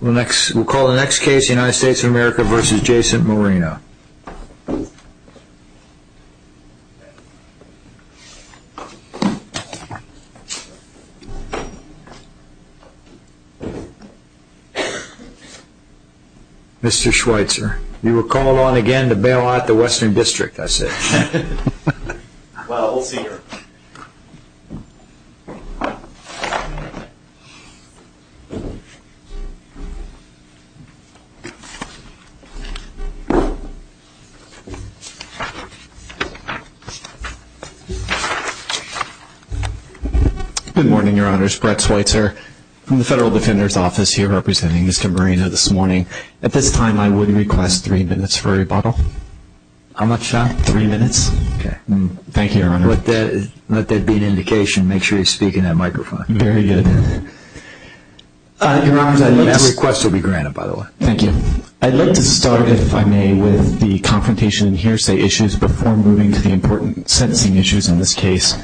We'll call the next case United States of America v. Jason Moreno. Mr. Schweitzer, you are called on again to bail out the Western District, I say. Well, we'll see here. Good morning, Your Honors. Brett Schweitzer from the Federal Defender's Office here representing Mr. Moreno this morning. At this time, I would request three minutes for rebuttal. How much, John? Three minutes. Thank you, Your Honor. Let that be an indication. Make sure you speak in that microphone. Very good. Your Honors, I'd like to start, if I may, with the confrontation and hearsay issues before moving to the important sentencing issues in this case.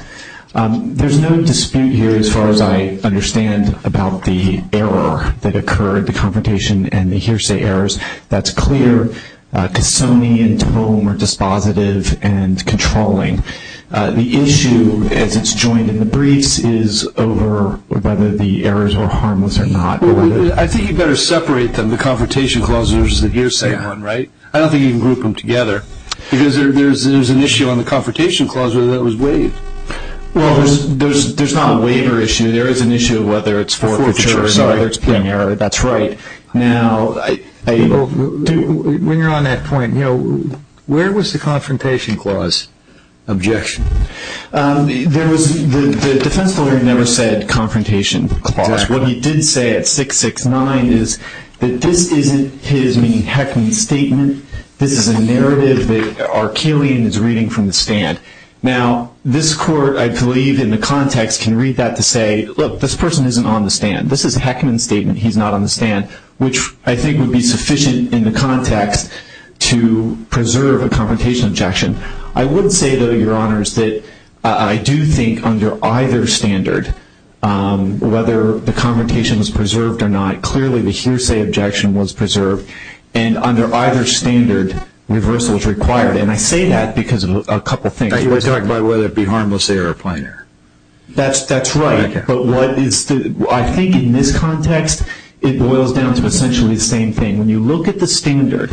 There's no dispute here, as far as I understand, about the error that occurred, the confrontation and the hearsay errors. That's clear. Cassoni and Tome are dispositive and controlling. The issue, as it's joined in the briefs, is over whether the errors were harmless or not. I think you'd better separate them, the confrontation clauses versus the hearsay one, right? I don't think you can group them together because there's an issue on the confrontation clause whether that was waived. Well, there's not a waiver issue. There is an issue of whether it's forfeiture or whether it's paying error. That's right. When you're on that point, where was the confrontation clause objection? The defense lawyer never said confrontation clause. What he did say at 669 is that this isn't his, meaning Heckman's, statement. This is a narrative that Arkelian is reading from the stand. Now, this court, I believe, in the context can read that to say, look, this person isn't on the stand. This is Heckman's statement, he's not on the stand, which I think would be sufficient in the context to preserve a confrontation objection. I would say, though, Your Honors, that I do think under either standard, whether the confrontation was preserved or not, clearly the hearsay objection was preserved. And under either standard, reversal is required. And I say that because of a couple of things. Are you talking about whether it be harmless error or plain error? That's right. But I think in this context, it boils down to essentially the same thing. When you look at the standard,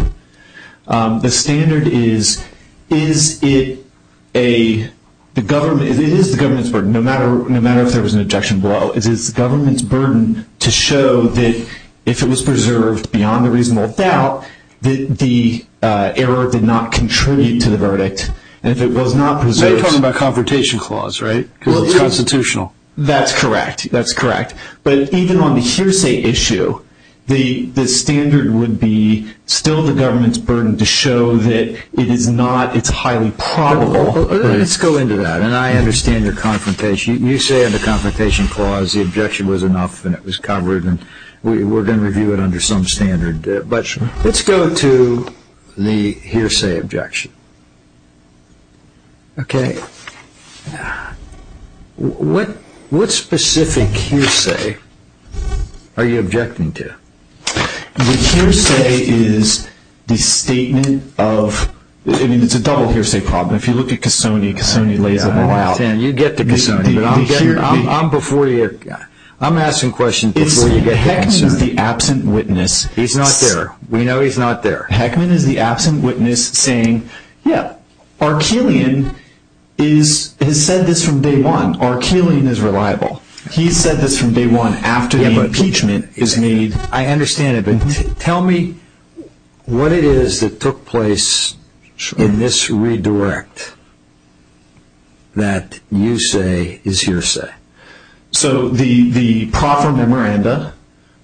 the standard is, it is the government's burden, no matter if there was an objection below. It is the government's burden to show that if it was preserved beyond a reasonable doubt, that the error did not contribute to the verdict. Now you're talking about confrontation clause, right? Because it's constitutional. That's correct. That's correct. But even on the hearsay issue, the standard would be still the government's burden to show that it is not, it's highly probable. Let's go into that. And I understand your confrontation. You say under confrontation clause the objection was enough and it was covered, and we're going to review it under some standard. But let's go to the hearsay objection. Okay. What specific hearsay are you objecting to? The hearsay is the statement of, I mean, it's a double hearsay problem. If you look at Cassoni, Cassoni lays them all out. I understand. You get to Cassoni. But I'm asking questions before you get to Cassoni. Heckman is the absent witness. He's not there. We know he's not there. Heckman is the absent witness saying, yeah, Arkeelian has said this from day one. Arkeelian is reliable. He said this from day one after the impeachment is made. I understand it, but tell me what it is that took place in this redirect that you say is hearsay. So the proper memoranda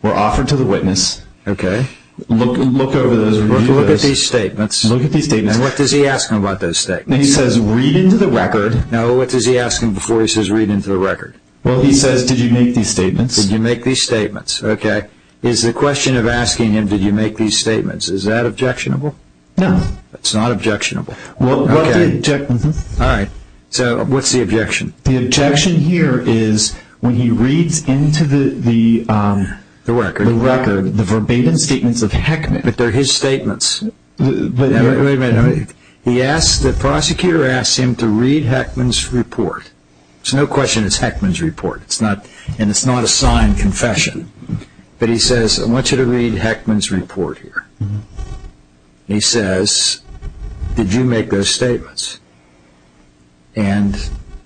were offered to the witness. Okay. Look over those. Look at these statements. Look at these statements. And what does he ask them about those statements? He says read into the record. No, what does he ask them before he says read into the record? Well, he says did you make these statements? Did you make these statements? Okay. Is the question of asking him did you make these statements, is that objectionable? No. That's not objectionable. Okay. All right. So what's the objection? The objection here is when he reads into the record the verbatim statements of Heckman. But they're his statements. Wait a minute. The prosecutor asks him to read Heckman's report. There's no question it's Heckman's report, and it's not a signed confession. But he says I want you to read Heckman's report here. He says did you make those statements? And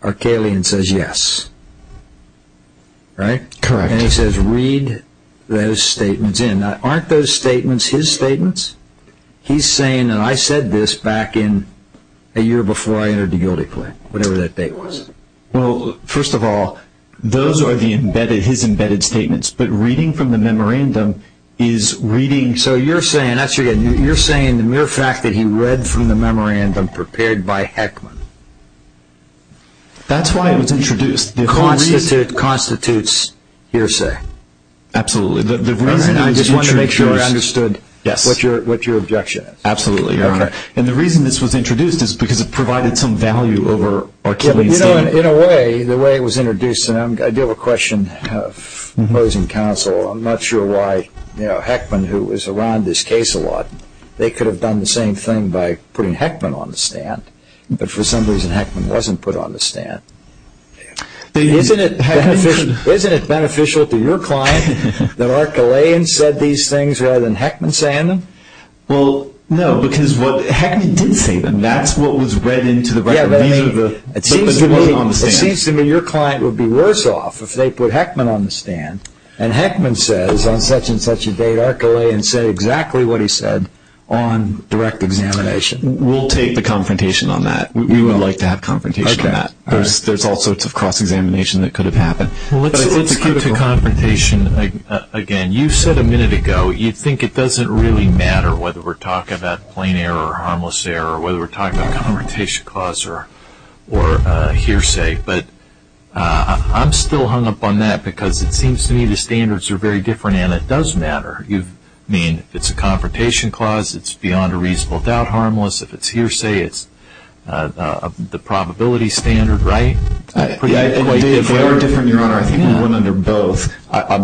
Arkaelian says yes. Right? Correct. And he says read those statements in. Now, aren't those statements his statements? He's saying that I said this back in a year before I entered the guilty plea, whatever that date was. Well, first of all, those are his embedded statements. But reading from the memorandum is reading. So you're saying the mere fact that he read from the memorandum prepared by Heckman. That's why it was introduced. Constitutes hearsay. Absolutely. I just wanted to make sure I understood what your objection is. Absolutely, Your Honor. And the reason this was introduced is because it provided some value over Arkaelian's statement. In a way, the way it was introduced, and I do have a question of opposing counsel. I'm not sure why Heckman, who was around this case a lot, they could have done the same thing by putting Heckman on the stand. But for some reason, Heckman wasn't put on the stand. Isn't it beneficial to your client that Arkaelian said these things rather than Heckman saying them? Well, no, because what Heckman did say, that's what was read into the record. It seems to me your client would be worse off if they put Heckman on the stand and Heckman says on such and such a date, Arkaelian said exactly what he said on direct examination. We'll take the confrontation on that. We would like to have confrontation on that. There's all sorts of cross-examination that could have happened. Let's go to confrontation again. You said a minute ago you think it doesn't really matter whether we're talking about plain error or harmless error or whether we're talking about confrontation clause or hearsay. I'm still hung up on that because it seems to me the standards are very different and it does matter. You mean if it's a confrontation clause, it's beyond a reasonable doubt harmless. If it's hearsay, it's the probability standard, right? They are different, Your Honor. I think the women are both.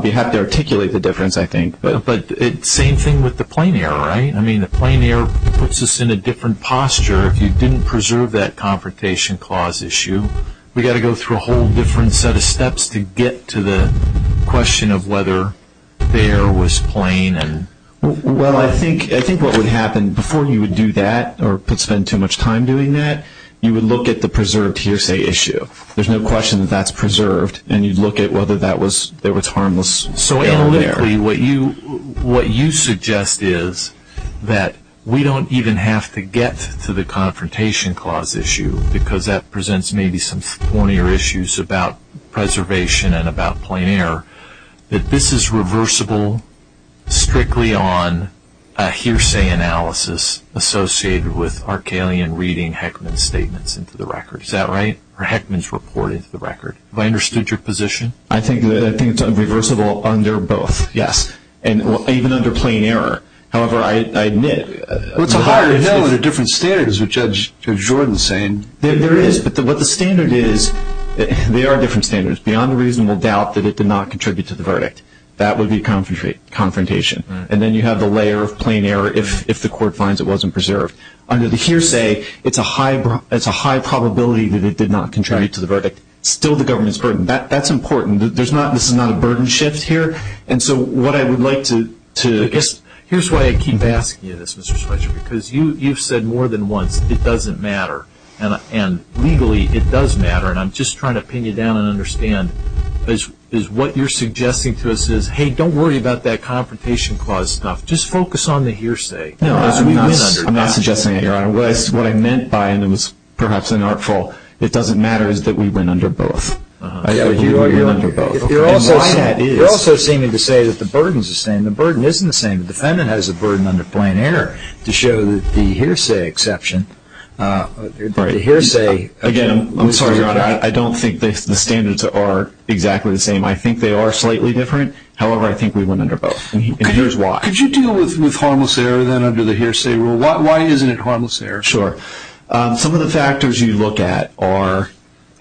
You have to articulate the difference, I think. But it's the same thing with the plain error, right? The plain error puts us in a different posture. If you didn't preserve that confrontation clause issue, we've got to go through a whole different set of steps to get to the question of whether there was plain. Well, I think what would happen before you would do that or spend too much time doing that, you would look at the preserved hearsay issue. There's no question that that's preserved and you'd look at whether there was harmless error there. So analytically, what you suggest is that we don't even have to get to the confrontation clause issue because that presents maybe some thornier issues about preservation and about plain error, that this is reversible strictly on a hearsay analysis associated with Arcalian reading Heckman's statements into the record. Is that right? Or Heckman's report into the record? Have I understood your position? I think it's reversible under both, yes. And even under plain error. However, I admit... What's a higher no than a different standard is what Judge Jordan is saying. There is, but what the standard is, there are different standards. Beyond a reasonable doubt that it did not contribute to the verdict, that would be confrontation. And then you have the layer of plain error if the court finds it wasn't preserved. Under the hearsay, it's a high probability that it did not contribute to the verdict. Still the government's burden. That's important. This is not a burden shift here. And so what I would like to... Here's why I keep asking you this, Mr. Schweitzer, because you've said more than once, it doesn't matter. And legally, it does matter. And I'm just trying to pin you down and understand is what you're suggesting to us is, hey, don't worry about that confrontation clause stuff, just focus on the hearsay. No, I'm not suggesting that, Your Honor. What I meant by, and it was perhaps an artful, it doesn't matter is that we win under both. You're under both. Your Honor, you're also seeming to say that the burden is the same. The burden isn't the same. The defendant has a burden under plain error to show that the hearsay exception, the hearsay... Again, I'm sorry, Your Honor, I don't think the standards are exactly the same. I think they are slightly different. However, I think we win under both. And here's why. Could you deal with harmless error then under the hearsay rule? Why isn't it harmless error? Sure. Some of the factors you look at are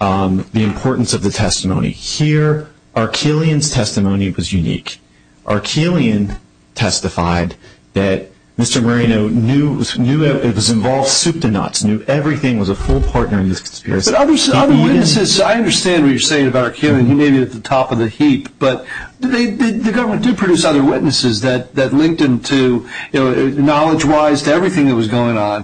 the importance of the testimony. Here, Arkeelian's testimony was unique. Arkeelian testified that Mr. Marino knew it was involved soup to nuts, knew everything was a full partner in this conspiracy. But other witnesses, I understand what you're saying about Arkeelian. He may be at the top of the heap. But the government did produce other witnesses that linked him knowledge-wise to everything that was going on.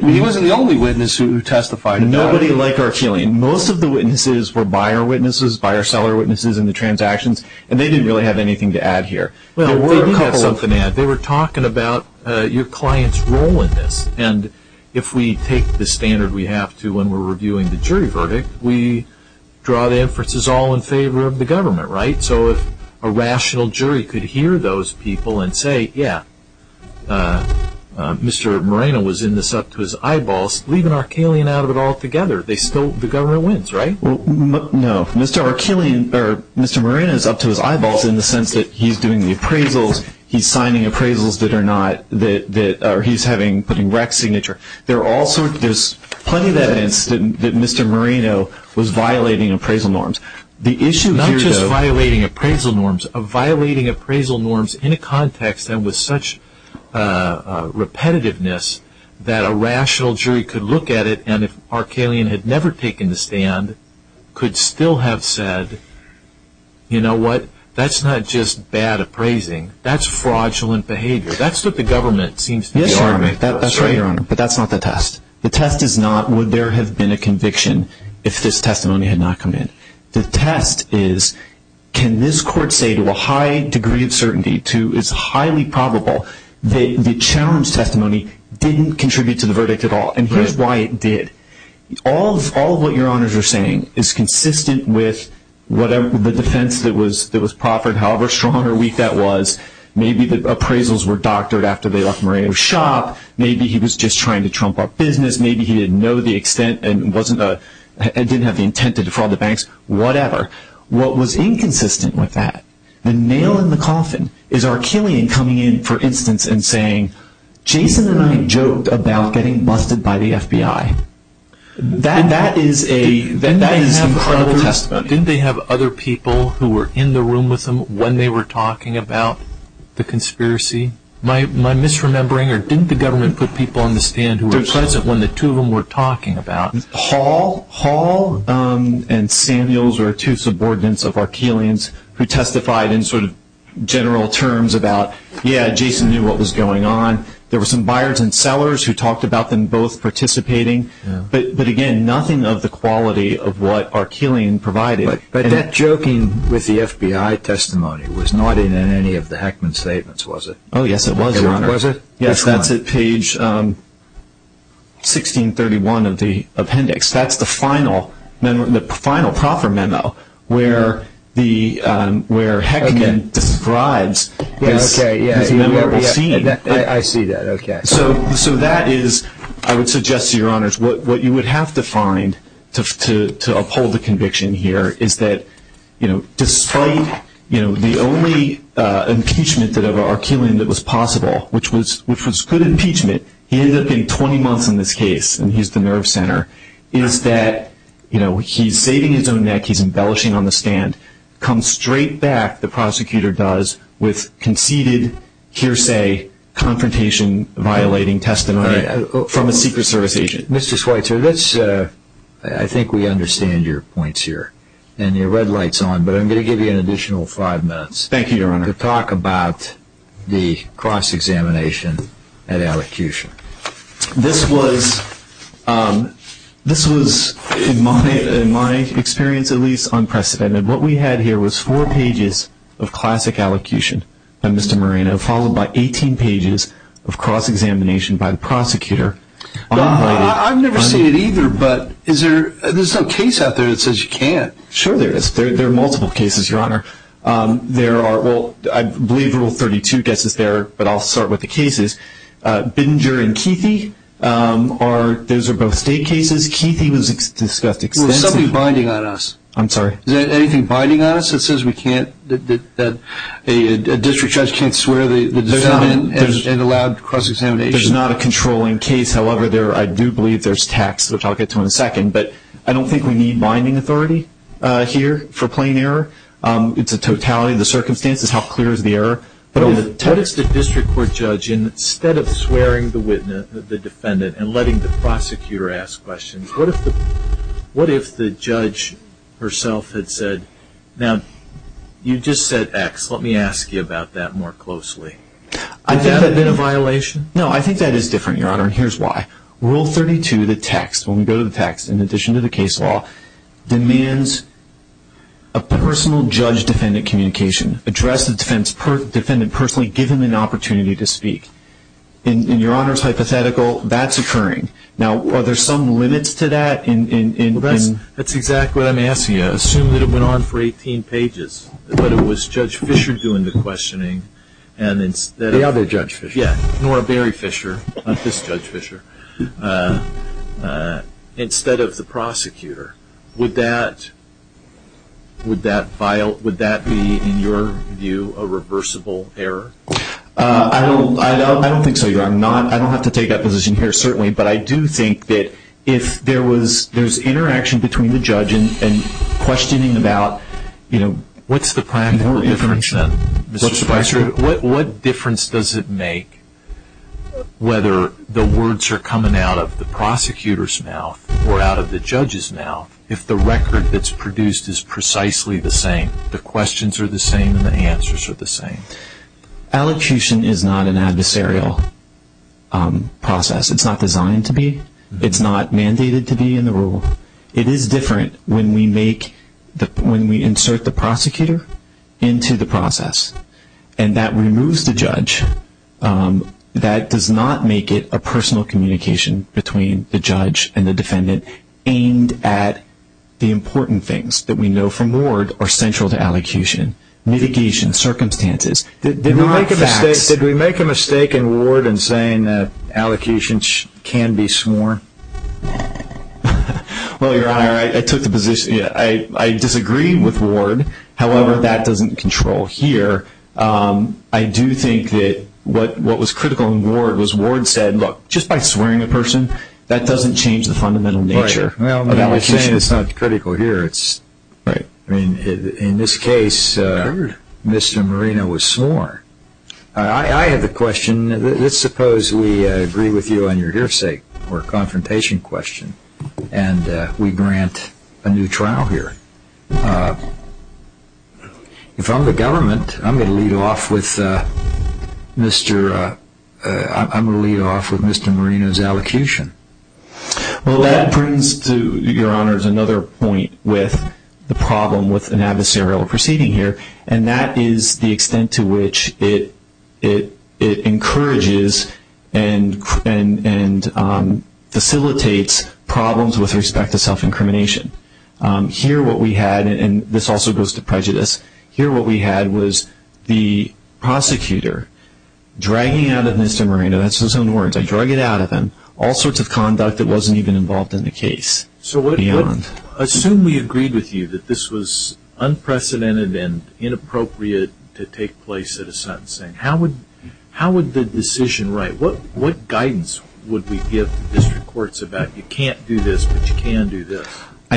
He wasn't the only witness who testified. Nobody like Arkeelian. Most of the witnesses were buyer witnesses, buyer-seller witnesses in the transactions, and they didn't really have anything to add here. They did have something to add. They were talking about your client's role in this. And if we take the standard we have to when we're reviewing the jury verdict, we draw the inferences all in favor of the government, right? So if a rational jury could hear those people and say, yeah, Mr. Marino was in this up to his eyeballs, leave an Arkeelian out of it altogether, the government wins, right? No. Mr. Marino is up to his eyeballs in the sense that he's doing the appraisals, he's signing appraisals that are not, or he's putting rack signature. There's plenty of evidence that Mr. Marino was violating appraisal norms. The issue here, though, is not just violating appraisal norms, violating appraisal norms in a context that was such repetitiveness that a rational jury could look at it and if Arkeelian had never taken the stand, could still have said, you know what, that's not just bad appraising, that's fraudulent behavior. That's what the government seems to be arguing. That's right, Your Honor, but that's not the test. The test is not would there have been a conviction if this testimony had not come in. The test is can this court say to a high degree of certainty, it's highly probable, that the challenge testimony didn't contribute to the verdict at all, and here's why it did. All of what Your Honors are saying is consistent with the defense that was proffered, however strong or weak that was. Maybe the appraisals were doctored after they left Marino's shop. Maybe he was just trying to trump our business. Maybe he didn't know the extent and didn't have the intent to defraud the banks. Whatever. What was inconsistent with that, the nail in the coffin, is Arkeelian coming in, for instance, and saying, Jason and I joked about getting busted by the FBI. That is incredible testimony. Didn't they have other people who were in the room with them when they were talking about the conspiracy? Am I misremembering, or didn't the government put people on the stand who were present when the two of them were talking about it? Hall and Samuels were two subordinates of Arkeelian's who testified in general terms about, yeah, Jason knew what was going on. There were some buyers and sellers who talked about them both participating, but, again, nothing of the quality of what Arkeelian provided. But that joking with the FBI testimony was not in any of the Heckman statements, was it? Oh, yes, it was, Your Honor. Was it? Yes, that's at page 1631 of the appendix. That's the final proper memo where Heckman describes his memorable scene. I see that, okay. So that is, I would suggest to Your Honors, what you would have to find to uphold the conviction here is that despite the only impeachment of Arkeelian that was possible, which was good impeachment, he ended up getting 20 months in this case, and he's the nerve center, is that he's saving his own neck, he's embellishing on the stand, comes straight back, the prosecutor does, with conceded, hearsay, confrontation-violating testimony from a Secret Service agent. Mr. Schweitzer, I think we understand your points here, and your red light's on, but I'm going to give you an additional five minutes. Thank you, Your Honor. To talk about the cross-examination at allocution. This was, in my experience at least, unprecedented. What we had here was four pages of classic allocution by Mr. Moreno, followed by 18 pages of cross-examination by the prosecutor. I've never seen it either, but there's no case out there that says you can't. Sure there is. There are multiple cases, Your Honor. There are, well, I believe Rule 32 gets us there, but I'll start with the cases. Bindger and Keithy, those are both state cases. Keithy was discussed extensively. There's something binding on us. I'm sorry? Is there anything binding on us that says we can't, that a district judge can't swear the defendant and allow cross-examination? There's not a controlling case. However, I do believe there's text, which I'll get to in a second, but I don't think we need binding authority here for plain error. It's a totality of the circumstances, how clear is the error. What if the district court judge, instead of swearing the defendant and letting the prosecutor ask questions, what if the judge herself had said, now, you just said X, let me ask you about that more closely. Would that have been a violation? No, I think that is different, Your Honor, and here's why. Rule 32, the text, when we go to the text, in addition to the case law, demands a personal judge-defendant communication. Address the defendant personally, give him an opportunity to speak. In Your Honor's hypothetical, that's occurring. Now, are there some limits to that? That's exactly what I'm asking you. Assume that it went on for 18 pages, but it was Judge Fischer doing the questioning. The other Judge Fischer. Yes, Nora Berry Fischer, not this Judge Fischer, instead of the prosecutor. Would that be, in your view, a reversible error? I don't think so, Your Honor. I don't have to take that position here, certainly, but I do think that if there was interaction between the judge and questioning about, you know, What's the practical difference then, Mr. Fischer? What difference does it make whether the words are coming out of the prosecutor's mouth or out of the judge's mouth if the record that's produced is precisely the same, the questions are the same, and the answers are the same? Elocution is not an adversarial process. It's not designed to be. It's not mandated to be in the rule. It is different when we insert the prosecutor into the process, and that removes the judge. That does not make it a personal communication between the judge and the defendant aimed at the important things that we know from Ward are central to elocution. Mitigation, circumstances. Did we make a mistake in Ward in saying that elocution can be sworn? Well, Your Honor, I took the position. I disagree with Ward. However, that doesn't control here. I do think that what was critical in Ward was Ward said, Look, just by swearing a person, that doesn't change the fundamental nature of elocution. Well, I'm not saying it's not critical here. In this case, Mr. Moreno was sworn. I have a question. Let's suppose we agree with you on your hearsay for a confrontation question, and we grant a new trial here. If I'm the government, I'm going to lead off with Mr. Moreno's elocution. Well, that brings to Your Honor's another point with the problem with an adversarial proceeding here, and that is the extent to which it encourages and facilitates problems with respect to self-incrimination. Here what we had, and this also goes to prejudice, here what we had was the prosecutor dragging out of Mr. Moreno, that's his own words, I dragged it out of him, all sorts of conduct that wasn't even involved in the case. So assume we agreed with you that this was unprecedented and inappropriate to take place at a sentencing. How would the decision write? What guidance would we give the district courts about you can't do this, but you can do this?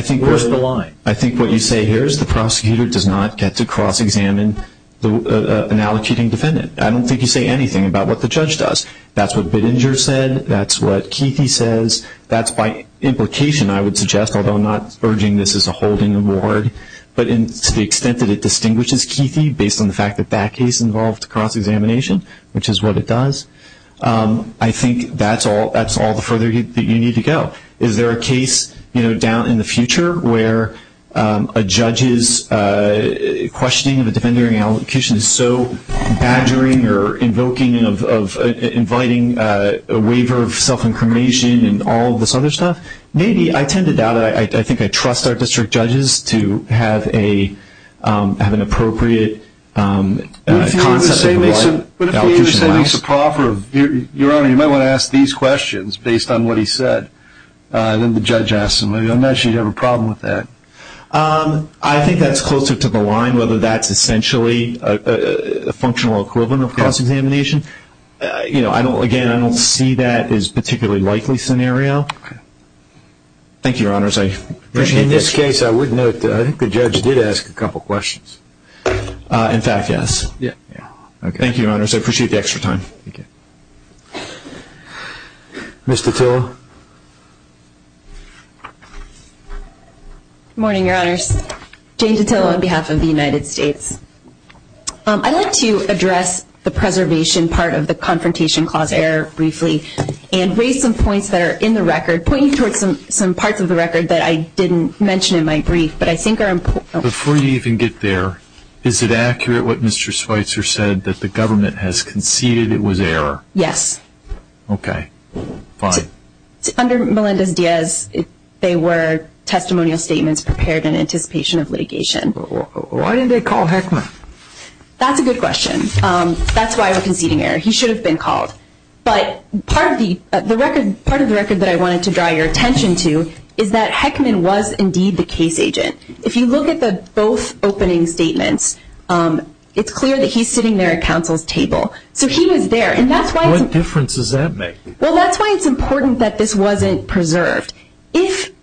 Where's the line? I think what you say here is the prosecutor does not get to cross-examine an allocating defendant. I don't think you say anything about what the judge does. That's what Bittinger said. That's what Keithy says. That's by implication, I would suggest, although I'm not urging this as a holding award, but to the extent that it distinguishes Keithy based on the fact that that case involved cross-examination, which is what it does, I think that's all the further that you need to go. Is there a case down in the future where a judge's questioning of a defendant during an allocation is so badgering or invoking or inviting a waiver of self-incrimination and all this other stuff? Maybe. I tend to doubt it. I think I trust our district judges to have an appropriate concept. But if the understanding is so proper, Your Honor, you might want to ask these questions based on what he said, and then the judge asks them. I imagine you'd have a problem with that. I think that's closer to the line, whether that's essentially a functional equivalent of cross-examination. Again, I don't see that as a particularly likely scenario. Thank you, Your Honors. In this case, I would note that I think the judge did ask a couple questions. In fact, yes. Thank you, Your Honors. I appreciate the extra time. Ms. Datila. Good morning, Your Honors. Jane Datila on behalf of the United States. I'd like to address the preservation part of the Confrontation Clause error briefly and raise some points that are in the record, pointing towards some parts of the record that I didn't mention in my brief, but I think are important. Before you even get there, is it accurate what Mr. Schweitzer said, that the government has conceded it was error? Yes. Okay. Fine. Under Melendez-Diaz, they were testimonial statements prepared in anticipation of litigation. Why didn't they call Heckman? That's a good question. That's why it was conceding error. He should have been called. But part of the record that I wanted to draw your attention to is that Heckman was indeed the case agent. If you look at the both opening statements, it's clear that he's sitting there at counsel's table. So he was there. What difference does that make? Well, that's why it's important that this wasn't preserved. If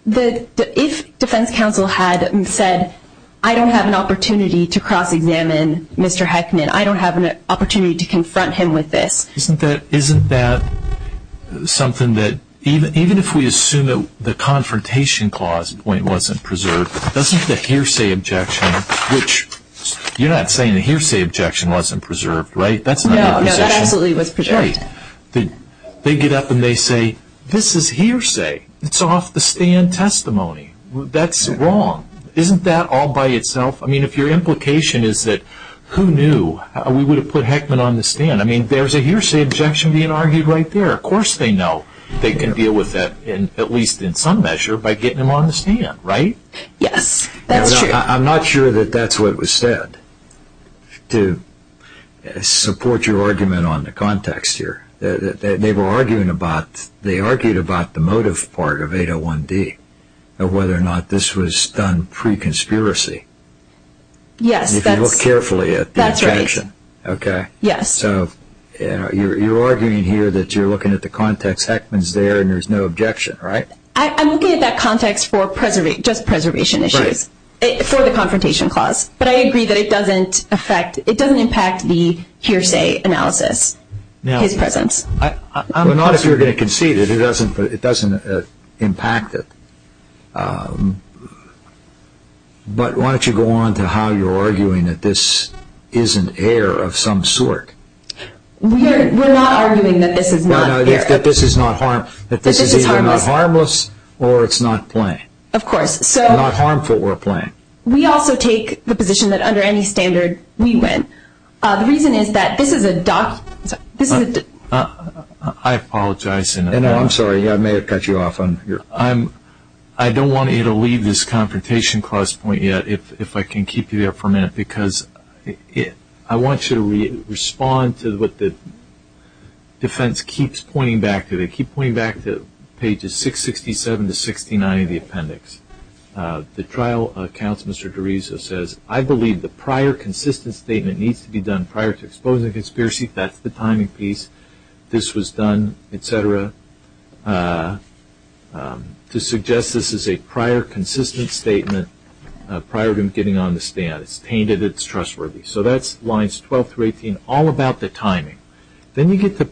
defense counsel had said, I don't have an opportunity to cross-examine Mr. Heckman, I don't have an opportunity to confront him with this. Isn't that something that even if we assume that the confrontation clause wasn't preserved, doesn't the hearsay objection, which you're not saying the hearsay objection wasn't preserved, right? No, that absolutely was preserved. Right. They get up and they say, this is hearsay. It's off the stand testimony. That's wrong. Isn't that all by itself? I mean, if your implication is that who knew we would have put Heckman on the stand. I mean, there's a hearsay objection being argued right there. Of course they know they can deal with that, at least in some measure, by getting him on the stand, right? Yes, that's true. I'm not sure that that's what was said. To support your argument on the context here, they were arguing about, they argued about the motive part of 801-D, whether or not this was done pre-conspiracy. If you look carefully at the objection. Okay. Yes. So you're arguing here that you're looking at the context. Heckman's there and there's no objection, right? I'm looking at that context for just preservation issues, for the confrontation clause. But I agree that it doesn't impact the hearsay analysis, his presence. Well, not if you're going to concede it. It doesn't impact it. But why don't you go on to how you're arguing that this is an error of some sort. We're not arguing that this is not error. That this is either not harmless or it's not playing. Of course. Not harmful or playing. We also take the position that under any standard, we win. The reason is that this is a document. I apologize. I'm sorry, I may have cut you off. I don't want you to leave this confrontation clause point yet if I can keep you there for a minute. Because I want you to respond to what the defense keeps pointing back to. They keep pointing back to pages 667 to 69 of the appendix. The trial counsel, Mr. DeRiso, says, I believe the prior consistent statement needs to be done prior to exposing the conspiracy. This was done, et cetera. To suggest this is a prior consistent statement prior to him getting on the stand. It's tainted. It's trustworthy. So that's lines 12 through 18, all about the timing. Then you get to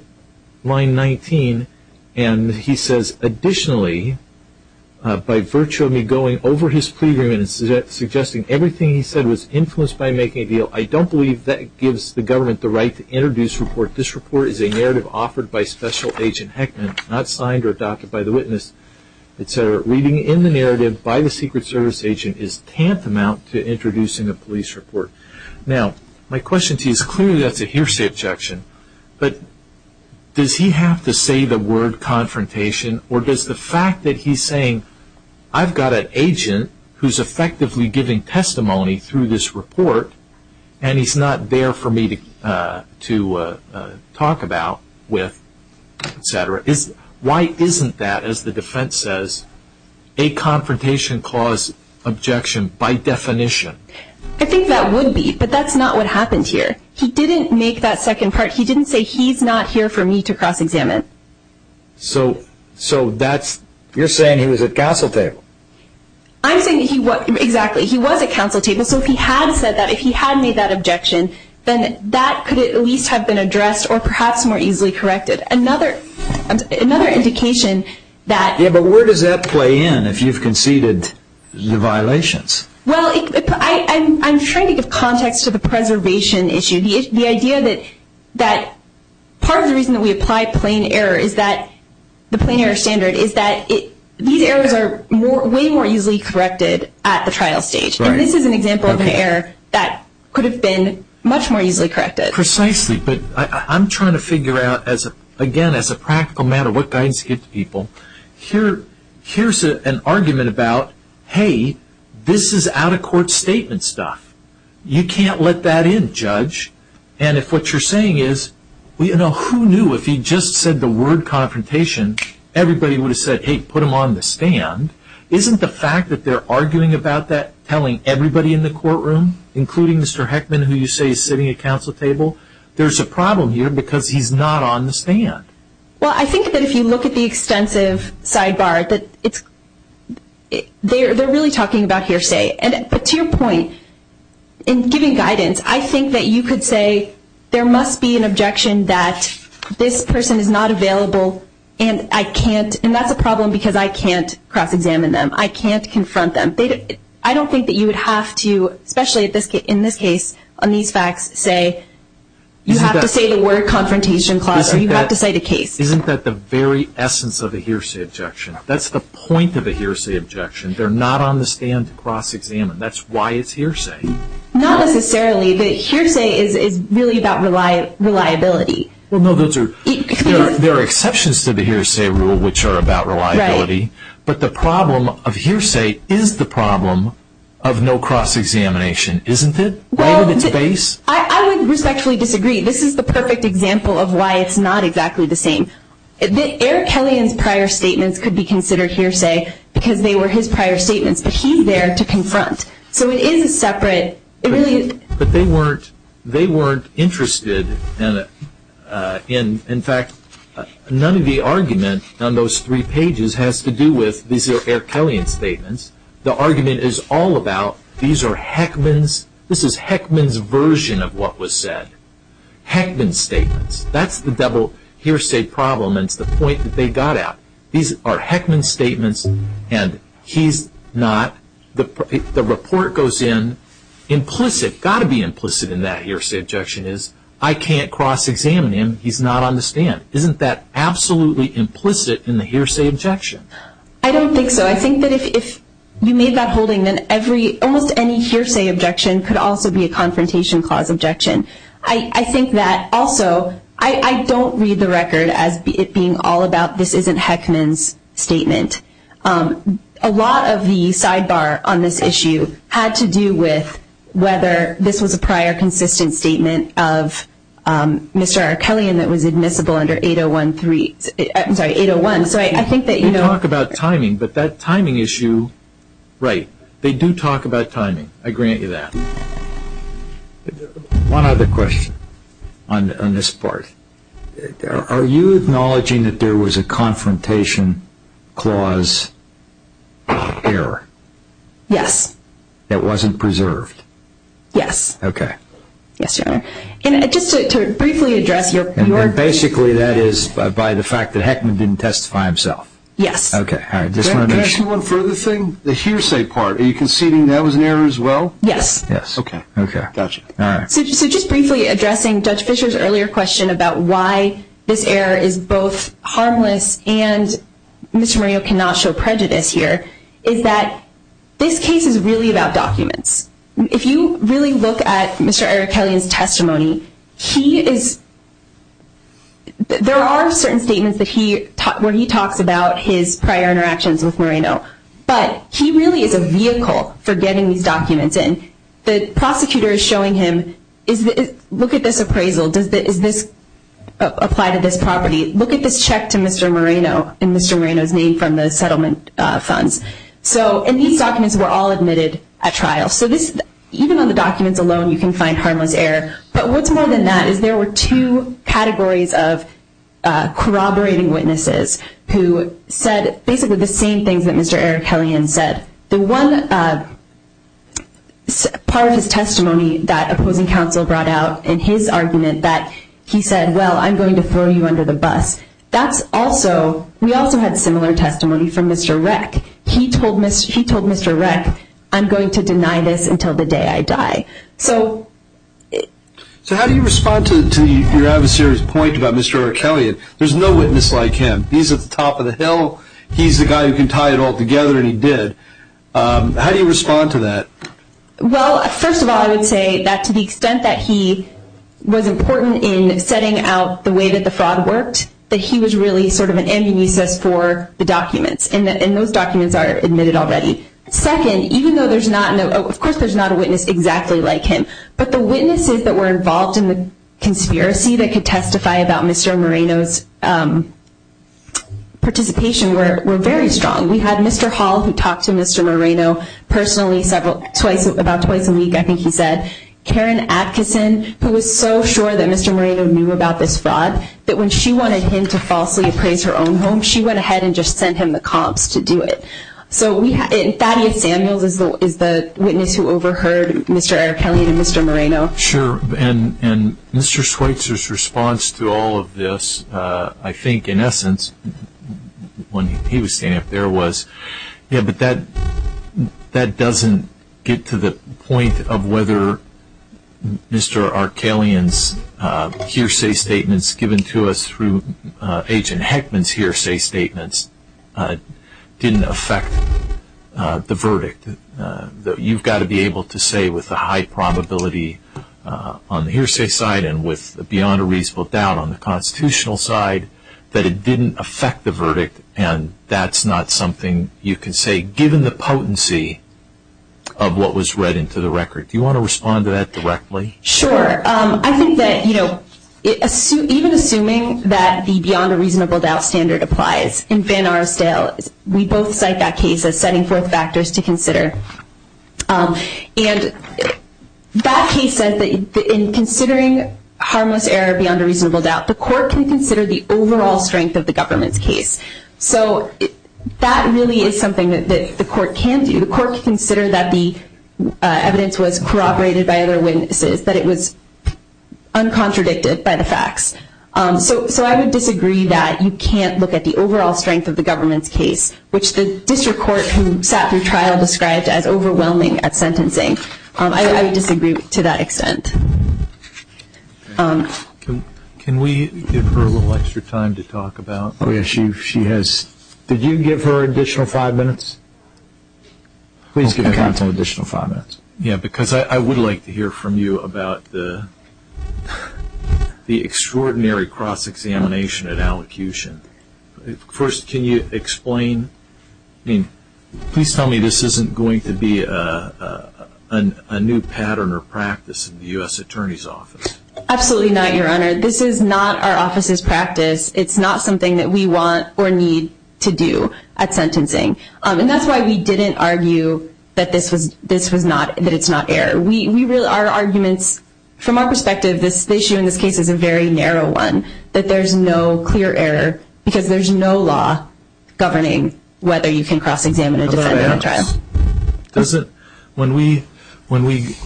line 19, and he says, Additionally, by virtue of me going over his plea agreements and suggesting everything he said was influenced by making a deal, I don't believe that gives the government the right to introduce a report. This report is a narrative offered by Special Agent Heckman, not signed or adopted by the witness, et cetera. Reading in the narrative by the Secret Service agent is tantamount to introducing a police report. Now, my question to you is clearly that's a hearsay objection. But does he have to say the word confrontation, or does the fact that he's saying I've got an agent who's effectively giving testimony through this report and he's not there for me to talk about with, et cetera. Why isn't that, as the defense says, a confrontation clause objection by definition? I think that would be, but that's not what happened here. He didn't make that second part. He didn't say he's not here for me to cross-examine. So you're saying he was at counsel table. I'm saying he was at counsel table. So if he had said that, if he had made that objection, then that could at least have been addressed or perhaps more easily corrected. Another indication that – Yeah, but where does that play in if you've conceded the violations? Well, I'm trying to give context to the preservation issue. The idea that part of the reason that we apply plain error is that – the plain error standard is that these errors are way more easily corrected at the trial stage. And this is an example of an error that could have been much more easily corrected. Precisely. But I'm trying to figure out, again, as a practical matter, what guidance to give to people. Here's an argument about, hey, this is out-of-court statement stuff. You can't let that in, Judge. And if what you're saying is, who knew if he just said the word confrontation, everybody would have said, hey, put him on the stand. Isn't the fact that they're arguing about that telling everybody in the courtroom, including Mr. Heckman, who you say is sitting at counsel table, there's a problem here because he's not on the stand? Well, I think that if you look at the extensive sidebar, that it's – they're really talking about hearsay. But to your point, in giving guidance, I think that you could say, there must be an objection that this person is not available and I can't – I can't examine them. I can't confront them. I don't think that you would have to, especially in this case, on these facts, say you have to say the word confrontation clause or you have to cite a case. Isn't that the very essence of a hearsay objection? That's the point of a hearsay objection. They're not on the stand to cross-examine. That's why it's hearsay. Not necessarily. The hearsay is really about reliability. Well, no, those are – there are exceptions to the hearsay rule which are about reliability. But the problem of hearsay is the problem of no cross-examination, isn't it? Right at its base. Well, I would respectfully disagree. This is the perfect example of why it's not exactly the same. Eric Kelleyan's prior statements could be considered hearsay because they were his prior statements, but he's there to confront. So it is a separate – it really is – But they weren't – they weren't interested in, in fact, None of the argument on those three pages has to do with these are Eric Kelleyan's statements. The argument is all about these are Heckman's – this is Heckman's version of what was said. Heckman's statements. That's the double hearsay problem and it's the point that they got at. These are Heckman's statements and he's not – the report goes in implicit, but what's got to be implicit in that hearsay objection is I can't cross-examine him, he's not on the stand. Isn't that absolutely implicit in the hearsay objection? I don't think so. I think that if you made that holding, then every – almost any hearsay objection could also be a confrontation clause objection. I think that also – I don't read the record as it being all about this isn't Heckman's statement. A lot of the sidebar on this issue had to do with whether this was a prior consistent statement of Mr. Eric Kelleyan that was admissible under 801-3 – I'm sorry, 801. So I think that you know – They talk about timing, but that timing issue – right. They do talk about timing. I grant you that. One other question on this part. Are you acknowledging that there was a confrontation clause error? Yes. That wasn't preserved? Yes. Okay. Yes, Your Honor. And just to briefly address your – And basically that is by the fact that Heckman didn't testify himself? Yes. Okay. Can I ask you one further thing? The hearsay part, are you conceding that was an error as well? Yes. Okay. Got you. So just briefly addressing Judge Fischer's earlier question about why this error is both harmless and Mr. Moreno cannot show prejudice here is that this case is really about documents. If you really look at Mr. Eric Kelleyan's testimony, he is – there are certain statements that he – where he talks about his prior interactions with Moreno, but he really is a vehicle for getting these documents. And the prosecutor is showing him, look at this appraisal. Does this apply to this property? Look at this check to Mr. Moreno and Mr. Moreno's name from the settlement funds. So – and these documents were all admitted at trial. So this – even on the documents alone, you can find harmless error. But what's more than that is there were two categories of corroborating witnesses who said basically the same things that Mr. Eric Kelleyan said. The one part of his testimony that opposing counsel brought out in his argument that he said, well, I'm going to throw you under the bus, that's also – we also had similar testimony from Mr. Reck. He told – he told Mr. Reck, I'm going to deny this until the day I die. So how do you respond to your adversary's point about Mr. Eric Kelleyan? There's no witness like him. He's at the top of the hill. He's the guy who can tie it all together, and he did. How do you respond to that? Well, first of all, I would say that to the extent that he was important in setting out the way that the fraud worked, that he was really sort of an amnesis for the documents. And those documents are admitted already. Second, even though there's not – of course there's not a witness exactly like him, but the witnesses that were involved in the conspiracy that could testify about Mr. Moreno's participation were very strong. We had Mr. Hall, who talked to Mr. Moreno personally several – twice – about twice a week, I think he said. Karen Atkinson, who was so sure that Mr. Moreno knew about this fraud, that when she wanted him to falsely appraise her own home, she went ahead and just sent him the comps to do it. Thaddeus Samuels is the witness who overheard Mr. Arkelyan and Mr. Moreno. Sure. And Mr. Schweitzer's response to all of this, I think in essence, when he was standing up there, was, yeah, but that doesn't get to the point of whether Mr. Arkelyan's hearsay statements given to us through Agent Heckman's hearsay statements didn't affect the verdict. You've got to be able to say with a high probability on the hearsay side and with beyond a reasonable doubt on the constitutional side that it didn't affect the verdict, and that's not something you can say given the potency of what was read into the record. Do you want to respond to that directly? Sure. I think that even assuming that the beyond a reasonable doubt standard applies in Van Arsdale, we both cite that case as setting forth factors to consider. And that case said that in considering harmless error beyond a reasonable doubt, the court can consider the overall strength of the government's case. So that really is something that the court can do. The court can consider that the evidence was corroborated by other witnesses, that it was uncontradicted by the facts. So I would disagree that you can't look at the overall strength of the government's case, which the district court who sat through trial described as overwhelming at sentencing. I would disagree to that extent. Can we give her a little extra time to talk about the issue? Did you give her an additional five minutes? Please give counsel an additional five minutes. Yes, because I would like to hear from you about the extraordinary cross-examination at allocution. First, can you explain? Please tell me this isn't going to be a new pattern or practice in the U.S. Attorney's Office. Absolutely not, Your Honor. This is not our office's practice. It's not something that we want or need to do at sentencing. And that's why we didn't argue that it's not error. Our arguments from our perspective, this issue in this case is a very narrow one, that there's no clear error because there's no law governing whether you can cross-examine a defendant in trial. When we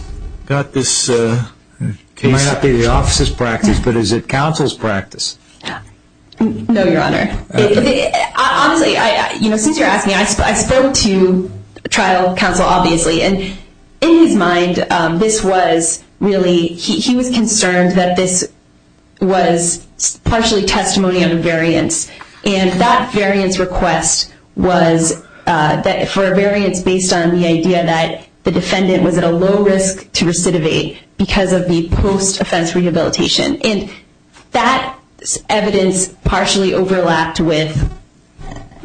got this case... It might not be the office's practice, but is it counsel's practice? No, Your Honor. Since you're asking, I spoke to trial counsel, obviously, and in his mind, this was really... He was concerned that this was partially testimony of a variance, and that variance request was for a variance based on the idea that the defendant was at a low risk to recidivate because of the post-offense rehabilitation. And that evidence partially overlapped with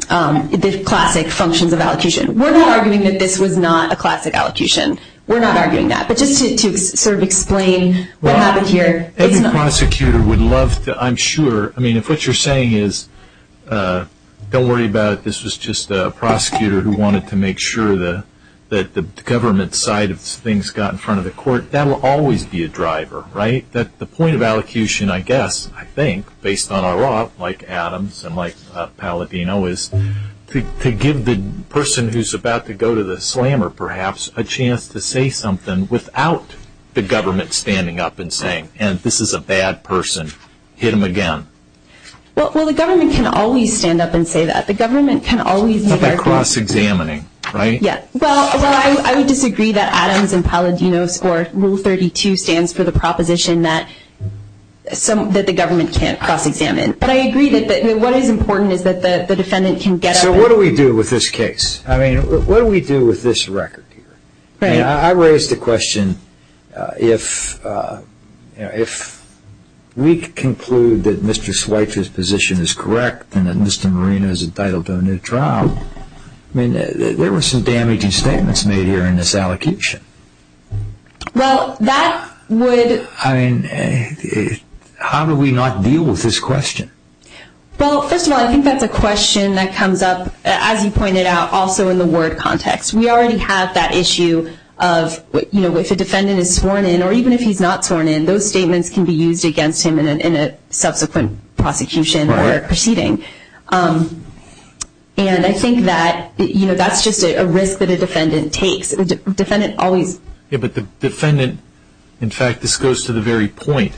the classic functions of allocution. We're not arguing that this was not a classic allocution. We're not arguing that. But just to sort of explain what happened here... Every prosecutor would love to, I'm sure... I mean, if what you're saying is, don't worry about it, this was just a prosecutor who wanted to make sure that the government side of things got in front of the court, that will always be a driver, right? That the point of allocution, I guess, I think, based on our law, like Adams and like Palladino, is to give the person who's about to go to the slammer, perhaps, a chance to say something without the government standing up and saying, and this is a bad person, hit him again. Well, the government can always stand up and say that. The government can always... It's not like cross-examining, right? Yeah. Well, I would disagree that Adams and Palladino's Rule 32 stands for the proposition that the government can't cross-examine. But I agree that what is important is that the defendant can get up... So what do we do with this case? I mean, what do we do with this record here? Right. I raise the question, if we conclude that Mr. Schweitzer's position is correct and that Mr. Moreno is entitled to a new trial, I mean, there were some damaging statements made here in this allocution. Well, that would... I mean, how do we not deal with this question? Well, first of all, I think that's a question that comes up, as you pointed out, also in the ward context. We already have that issue of, you know, if a defendant is sworn in or even if he's not sworn in, those statements can be used against him in a subsequent prosecution or proceeding. And I think that, you know, that's just a risk that a defendant takes. A defendant always... Yeah, but the defendant... In fact, this goes to the very point.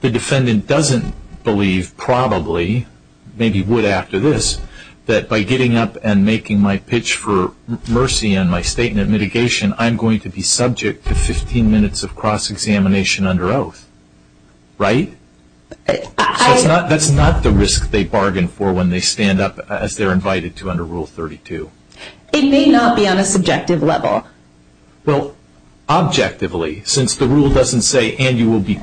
The defendant doesn't believe, probably, maybe would after this, that by getting up and making my pitch for mercy on my statement of mitigation, I'm going to be subject to 15 minutes of cross-examination under oath. Right? That's not the risk they bargain for when they stand up as they're invited to under Rule 32. It may not be on a subjective level. Well, objectively, since the rule doesn't say, and you will be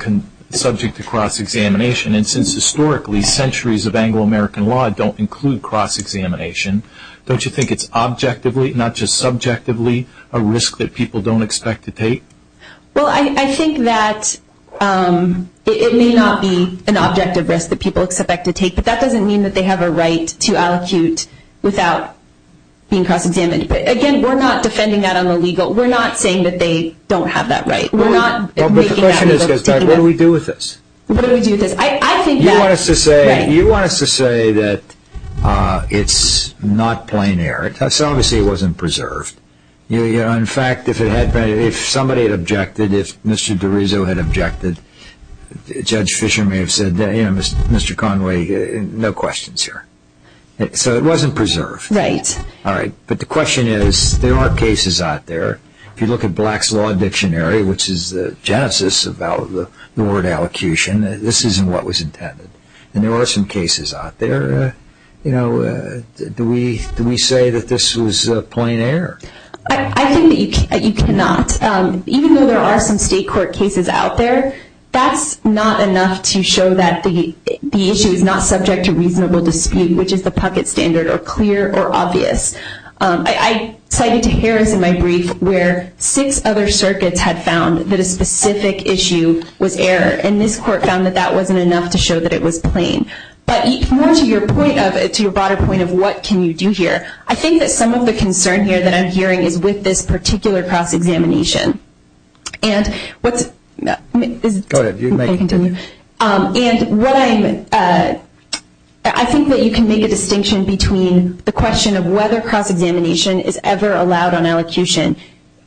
subject to cross-examination, and since historically centuries of Anglo-American law don't include cross-examination, don't you think it's objectively, not just subjectively, a risk that people don't expect to take? Well, I think that it may not be an objective risk that people expect to take, but that doesn't mean that they have a right to allocute without being cross-examined. Again, we're not defending that on the legal. We're not saying that they don't have that right. The question is, what do we do with this? What do we do with this? You want us to say that it's not plein air. Obviously, it wasn't preserved. In fact, if somebody had objected, if Mr. DiRiso had objected, Judge Fisher may have said, Mr. Conway, no questions here. So it wasn't preserved. Right. All right, but the question is, there are cases out there. If you look at Black's Law Dictionary, which is the genesis of the word allocution, this isn't what was intended, and there are some cases out there. Do we say that this was plein air? I think that you cannot. Even though there are some state court cases out there, that's not enough to show that the issue is not subject to reasonable dispute, which is the pucket standard or clear or obvious. I cited Harris in my brief where six other circuits had found that a specific issue was air, and this court found that that wasn't enough to show that it was plein. But more to your broader point of what can you do here, I think that some of the concern here that I'm hearing is with this particular cross-examination. Go ahead. I think that you can make a distinction between the question of whether cross-examination is ever allowed on allocution,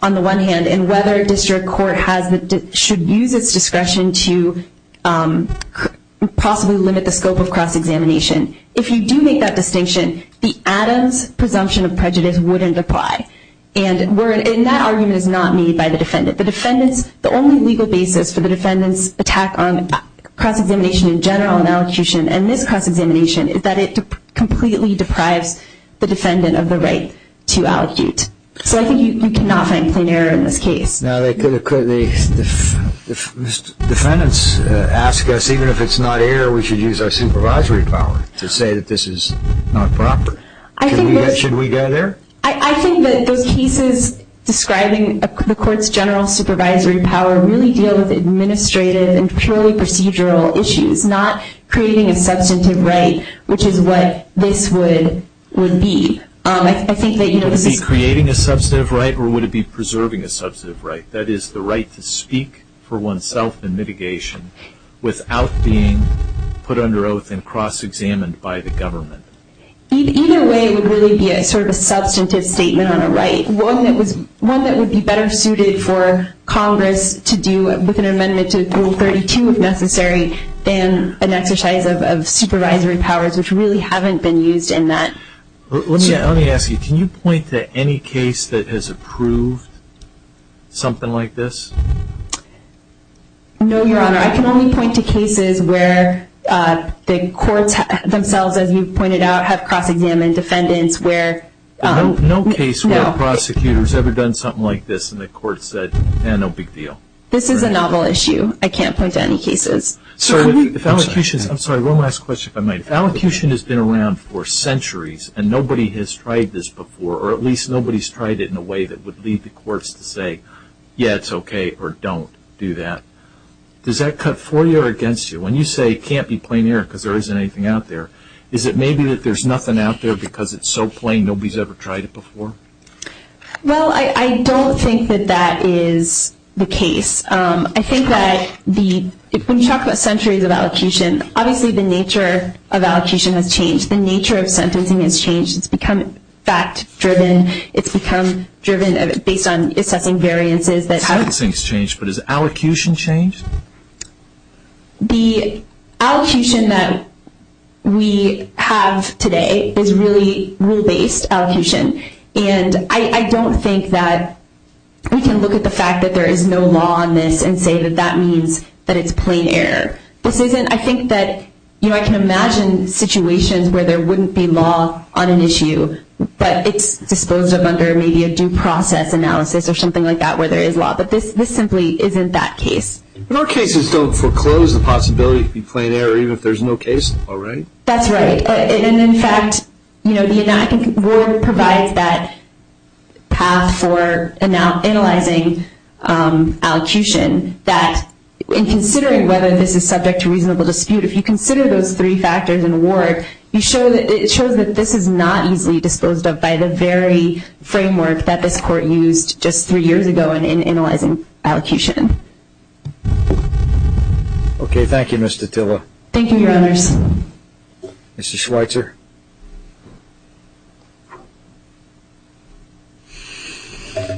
on the one hand, and whether a district court should use its discretion to possibly limit the scope of cross-examination. If you do make that distinction, the Adams presumption of prejudice wouldn't apply. The only legal basis for the defendant's attack on cross-examination in general on allocution and this cross-examination is that it completely deprives the defendant of the right to allocute. So I think you cannot find plein air in this case. Now, defendants ask us, even if it's not air, we should use our supervisory power to say that this is not proper. Should we go there? I think that those cases describing the court's general supervisory power really deal with administrative and purely procedural issues, not creating a substantive right, which is what this would be. Would it be creating a substantive right or would it be preserving a substantive right? That is, the right to speak for oneself in mitigation without being put under oath and cross-examined by the government. Either way, it would really be sort of a substantive statement on a right, one that would be better suited for Congress to do with an amendment to Rule 32 if necessary than an exercise of supervisory powers, which really haven't been used in that. Let me ask you, can you point to any case that has approved something like this? No, Your Honor. I can only point to cases where the courts themselves, as you've pointed out, have cross-examined defendants where No case where a prosecutor has ever done something like this and the court said, yeah, no big deal. This is a novel issue. I can't point to any cases. I'm sorry, one last question if I might. If allocution has been around for centuries and nobody has tried this before, or at least nobody has tried it in a way that would lead the courts to say, yeah, it's okay, or don't do that, does that cut for you or against you? When you say it can't be plain error because there isn't anything out there, is it maybe that there's nothing out there because it's so plain nobody has ever tried it before? Well, I don't think that that is the case. I think that when you talk about centuries of allocution, obviously the nature of allocution has changed. The nature of sentencing has changed. It's become fact-driven. It's become driven based on assessing variances. Sentencing has changed, but has allocution changed? The allocution that we have today is really rule-based allocution. And I don't think that we can look at the fact that there is no law on this and say that that means that it's plain error. I think that I can imagine situations where there wouldn't be law on an issue, but it's disposed of under maybe a due process analysis or something like that where there is law. But this simply isn't that case. But our cases don't foreclose the possibility of being plain error even if there's no case law, right? That's right. And, in fact, I think Ward provides that path for analyzing allocution, that in considering whether this is subject to reasonable dispute, if you consider those three factors in Ward, it shows that this is not easily disposed of by the very framework that this Court used just three years ago in analyzing allocution. Okay, thank you, Ms. Datila. Thank you, Your Honors. Mr. Schweitzer.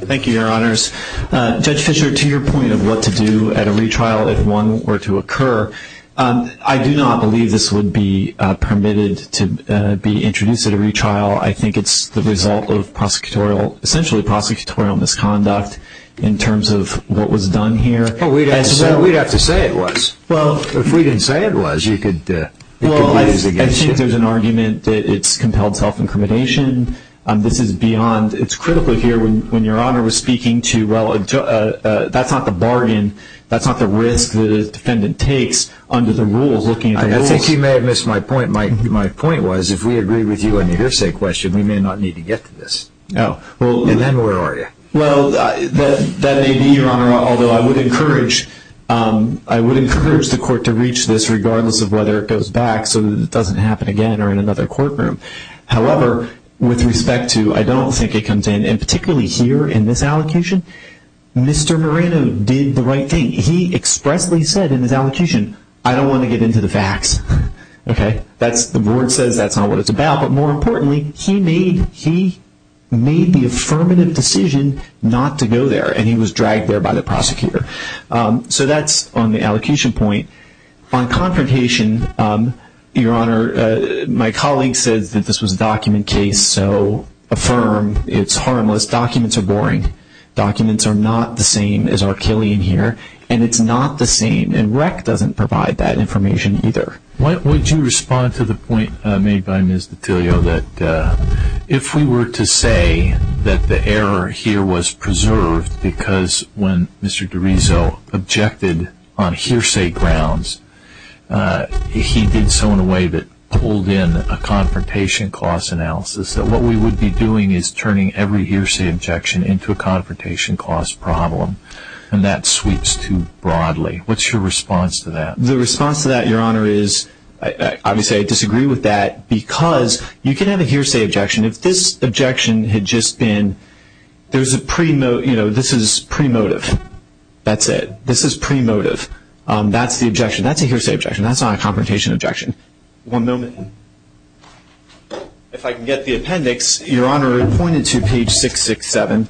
Thank you, Your Honors. Judge Fischer, to your point of what to do at a retrial if one were to occur, I do not believe this would be permitted to be introduced at a retrial. I think it's the result of, essentially, prosecutorial misconduct in terms of what was done here. We'd have to say it was. Well, if we didn't say it was, it could be used against you. Well, I think there's an argument that it's compelled self-incrimination. This is beyond. It's critical here when Your Honor was speaking to, well, that's not the bargain. That's not the risk that a defendant takes under the rules, looking at the rules. I think you may have missed my point. My point was if we agree with you on your hearsay question, we may not need to get to this. Oh. And then where are you? Well, that may be, Your Honor, although I would encourage the court to reach this, regardless of whether it goes back so that it doesn't happen again or in another courtroom. However, with respect to I don't think it comes in, and particularly here in this allocation, Mr. Moreno did the right thing. He expressly said in his allocation, I don't want to get into the facts. Okay? The board says that's not what it's about. But more importantly, he made the affirmative decision not to go there, and he was dragged there by the prosecutor. So that's on the allocation point. On confrontation, Your Honor, my colleague says that this was a document case, so affirm. It's harmless. Documents are boring. Documents are not the same as our Killian here, and it's not the same. And REC doesn't provide that information either. Why don't you respond to the point made by Ms. Dottilio that if we were to say that the error here was preserved because when Mr. DiRiso objected on hearsay grounds, he did so in a way that pulled in a confrontation cost analysis, that what we would be doing is turning every hearsay objection into a confrontation cost problem, and that sweeps too broadly. What's your response to that? The response to that, Your Honor, is obviously I disagree with that because you can have a hearsay objection. If this objection had just been, you know, this is pre-motive. That's it. This is pre-motive. That's the objection. That's a hearsay objection. That's not a confrontation objection. One moment. If I can get the appendix. Your Honor, it pointed to page 667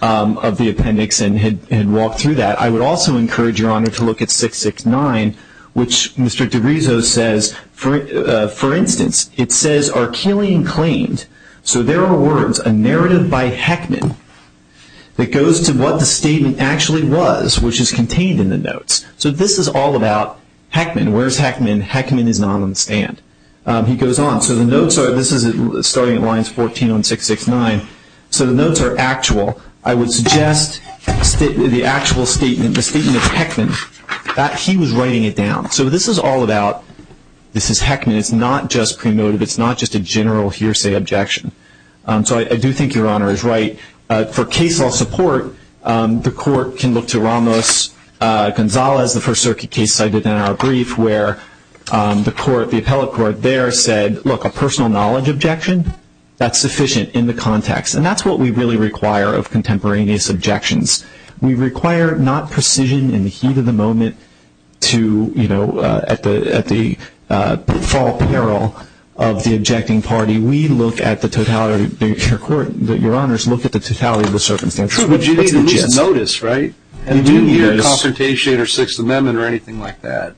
of the appendix and had walked through that. I would also encourage, Your Honor, to look at 669, which Mr. DiRiso says, for instance, it says, are Keeley and claimed. So there are words, a narrative by Heckman that goes to what the statement actually was, which is contained in the notes. So this is all about Heckman. Where's Heckman? Heckman is not on the stand. He goes on. So the notes are, this is starting at lines 14 on 669. So the notes are actual. I would suggest the actual statement, the statement of Heckman, that he was writing it down. So this is all about, this is Heckman. It's not just pre-motive. It's not just a general hearsay objection. So I do think Your Honor is right. For case law support, the court can look to Ramos-Gonzalez, the First Circuit case cited in our brief, where the court, the appellate court there said, look, a personal knowledge objection, that's sufficient in the context. And that's what we really require of contemporaneous objections. We require not precision in the heat of the moment to, you know, at the fall peril of the objecting party. We look at the totality of the circumstance. True, but you need a notice, right? You need a consultation or Sixth Amendment or anything like that.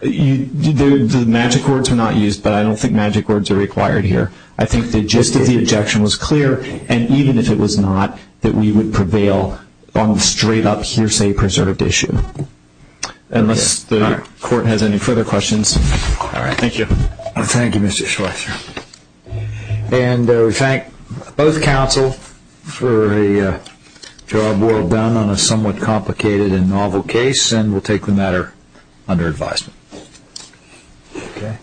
The magic words are not used, but I don't think magic words are required here. I think the gist of the objection was clear, and even if it was not, that we would prevail on the straight-up hearsay preserved issue. Unless the court has any further questions. All right. Thank you. Thank you, Mr. Schweitzer. And we thank both counsel for a job well done on a somewhat complicated and novel case, and we'll take the matter under advisement. Okay? Yeah. Okay. Yeah.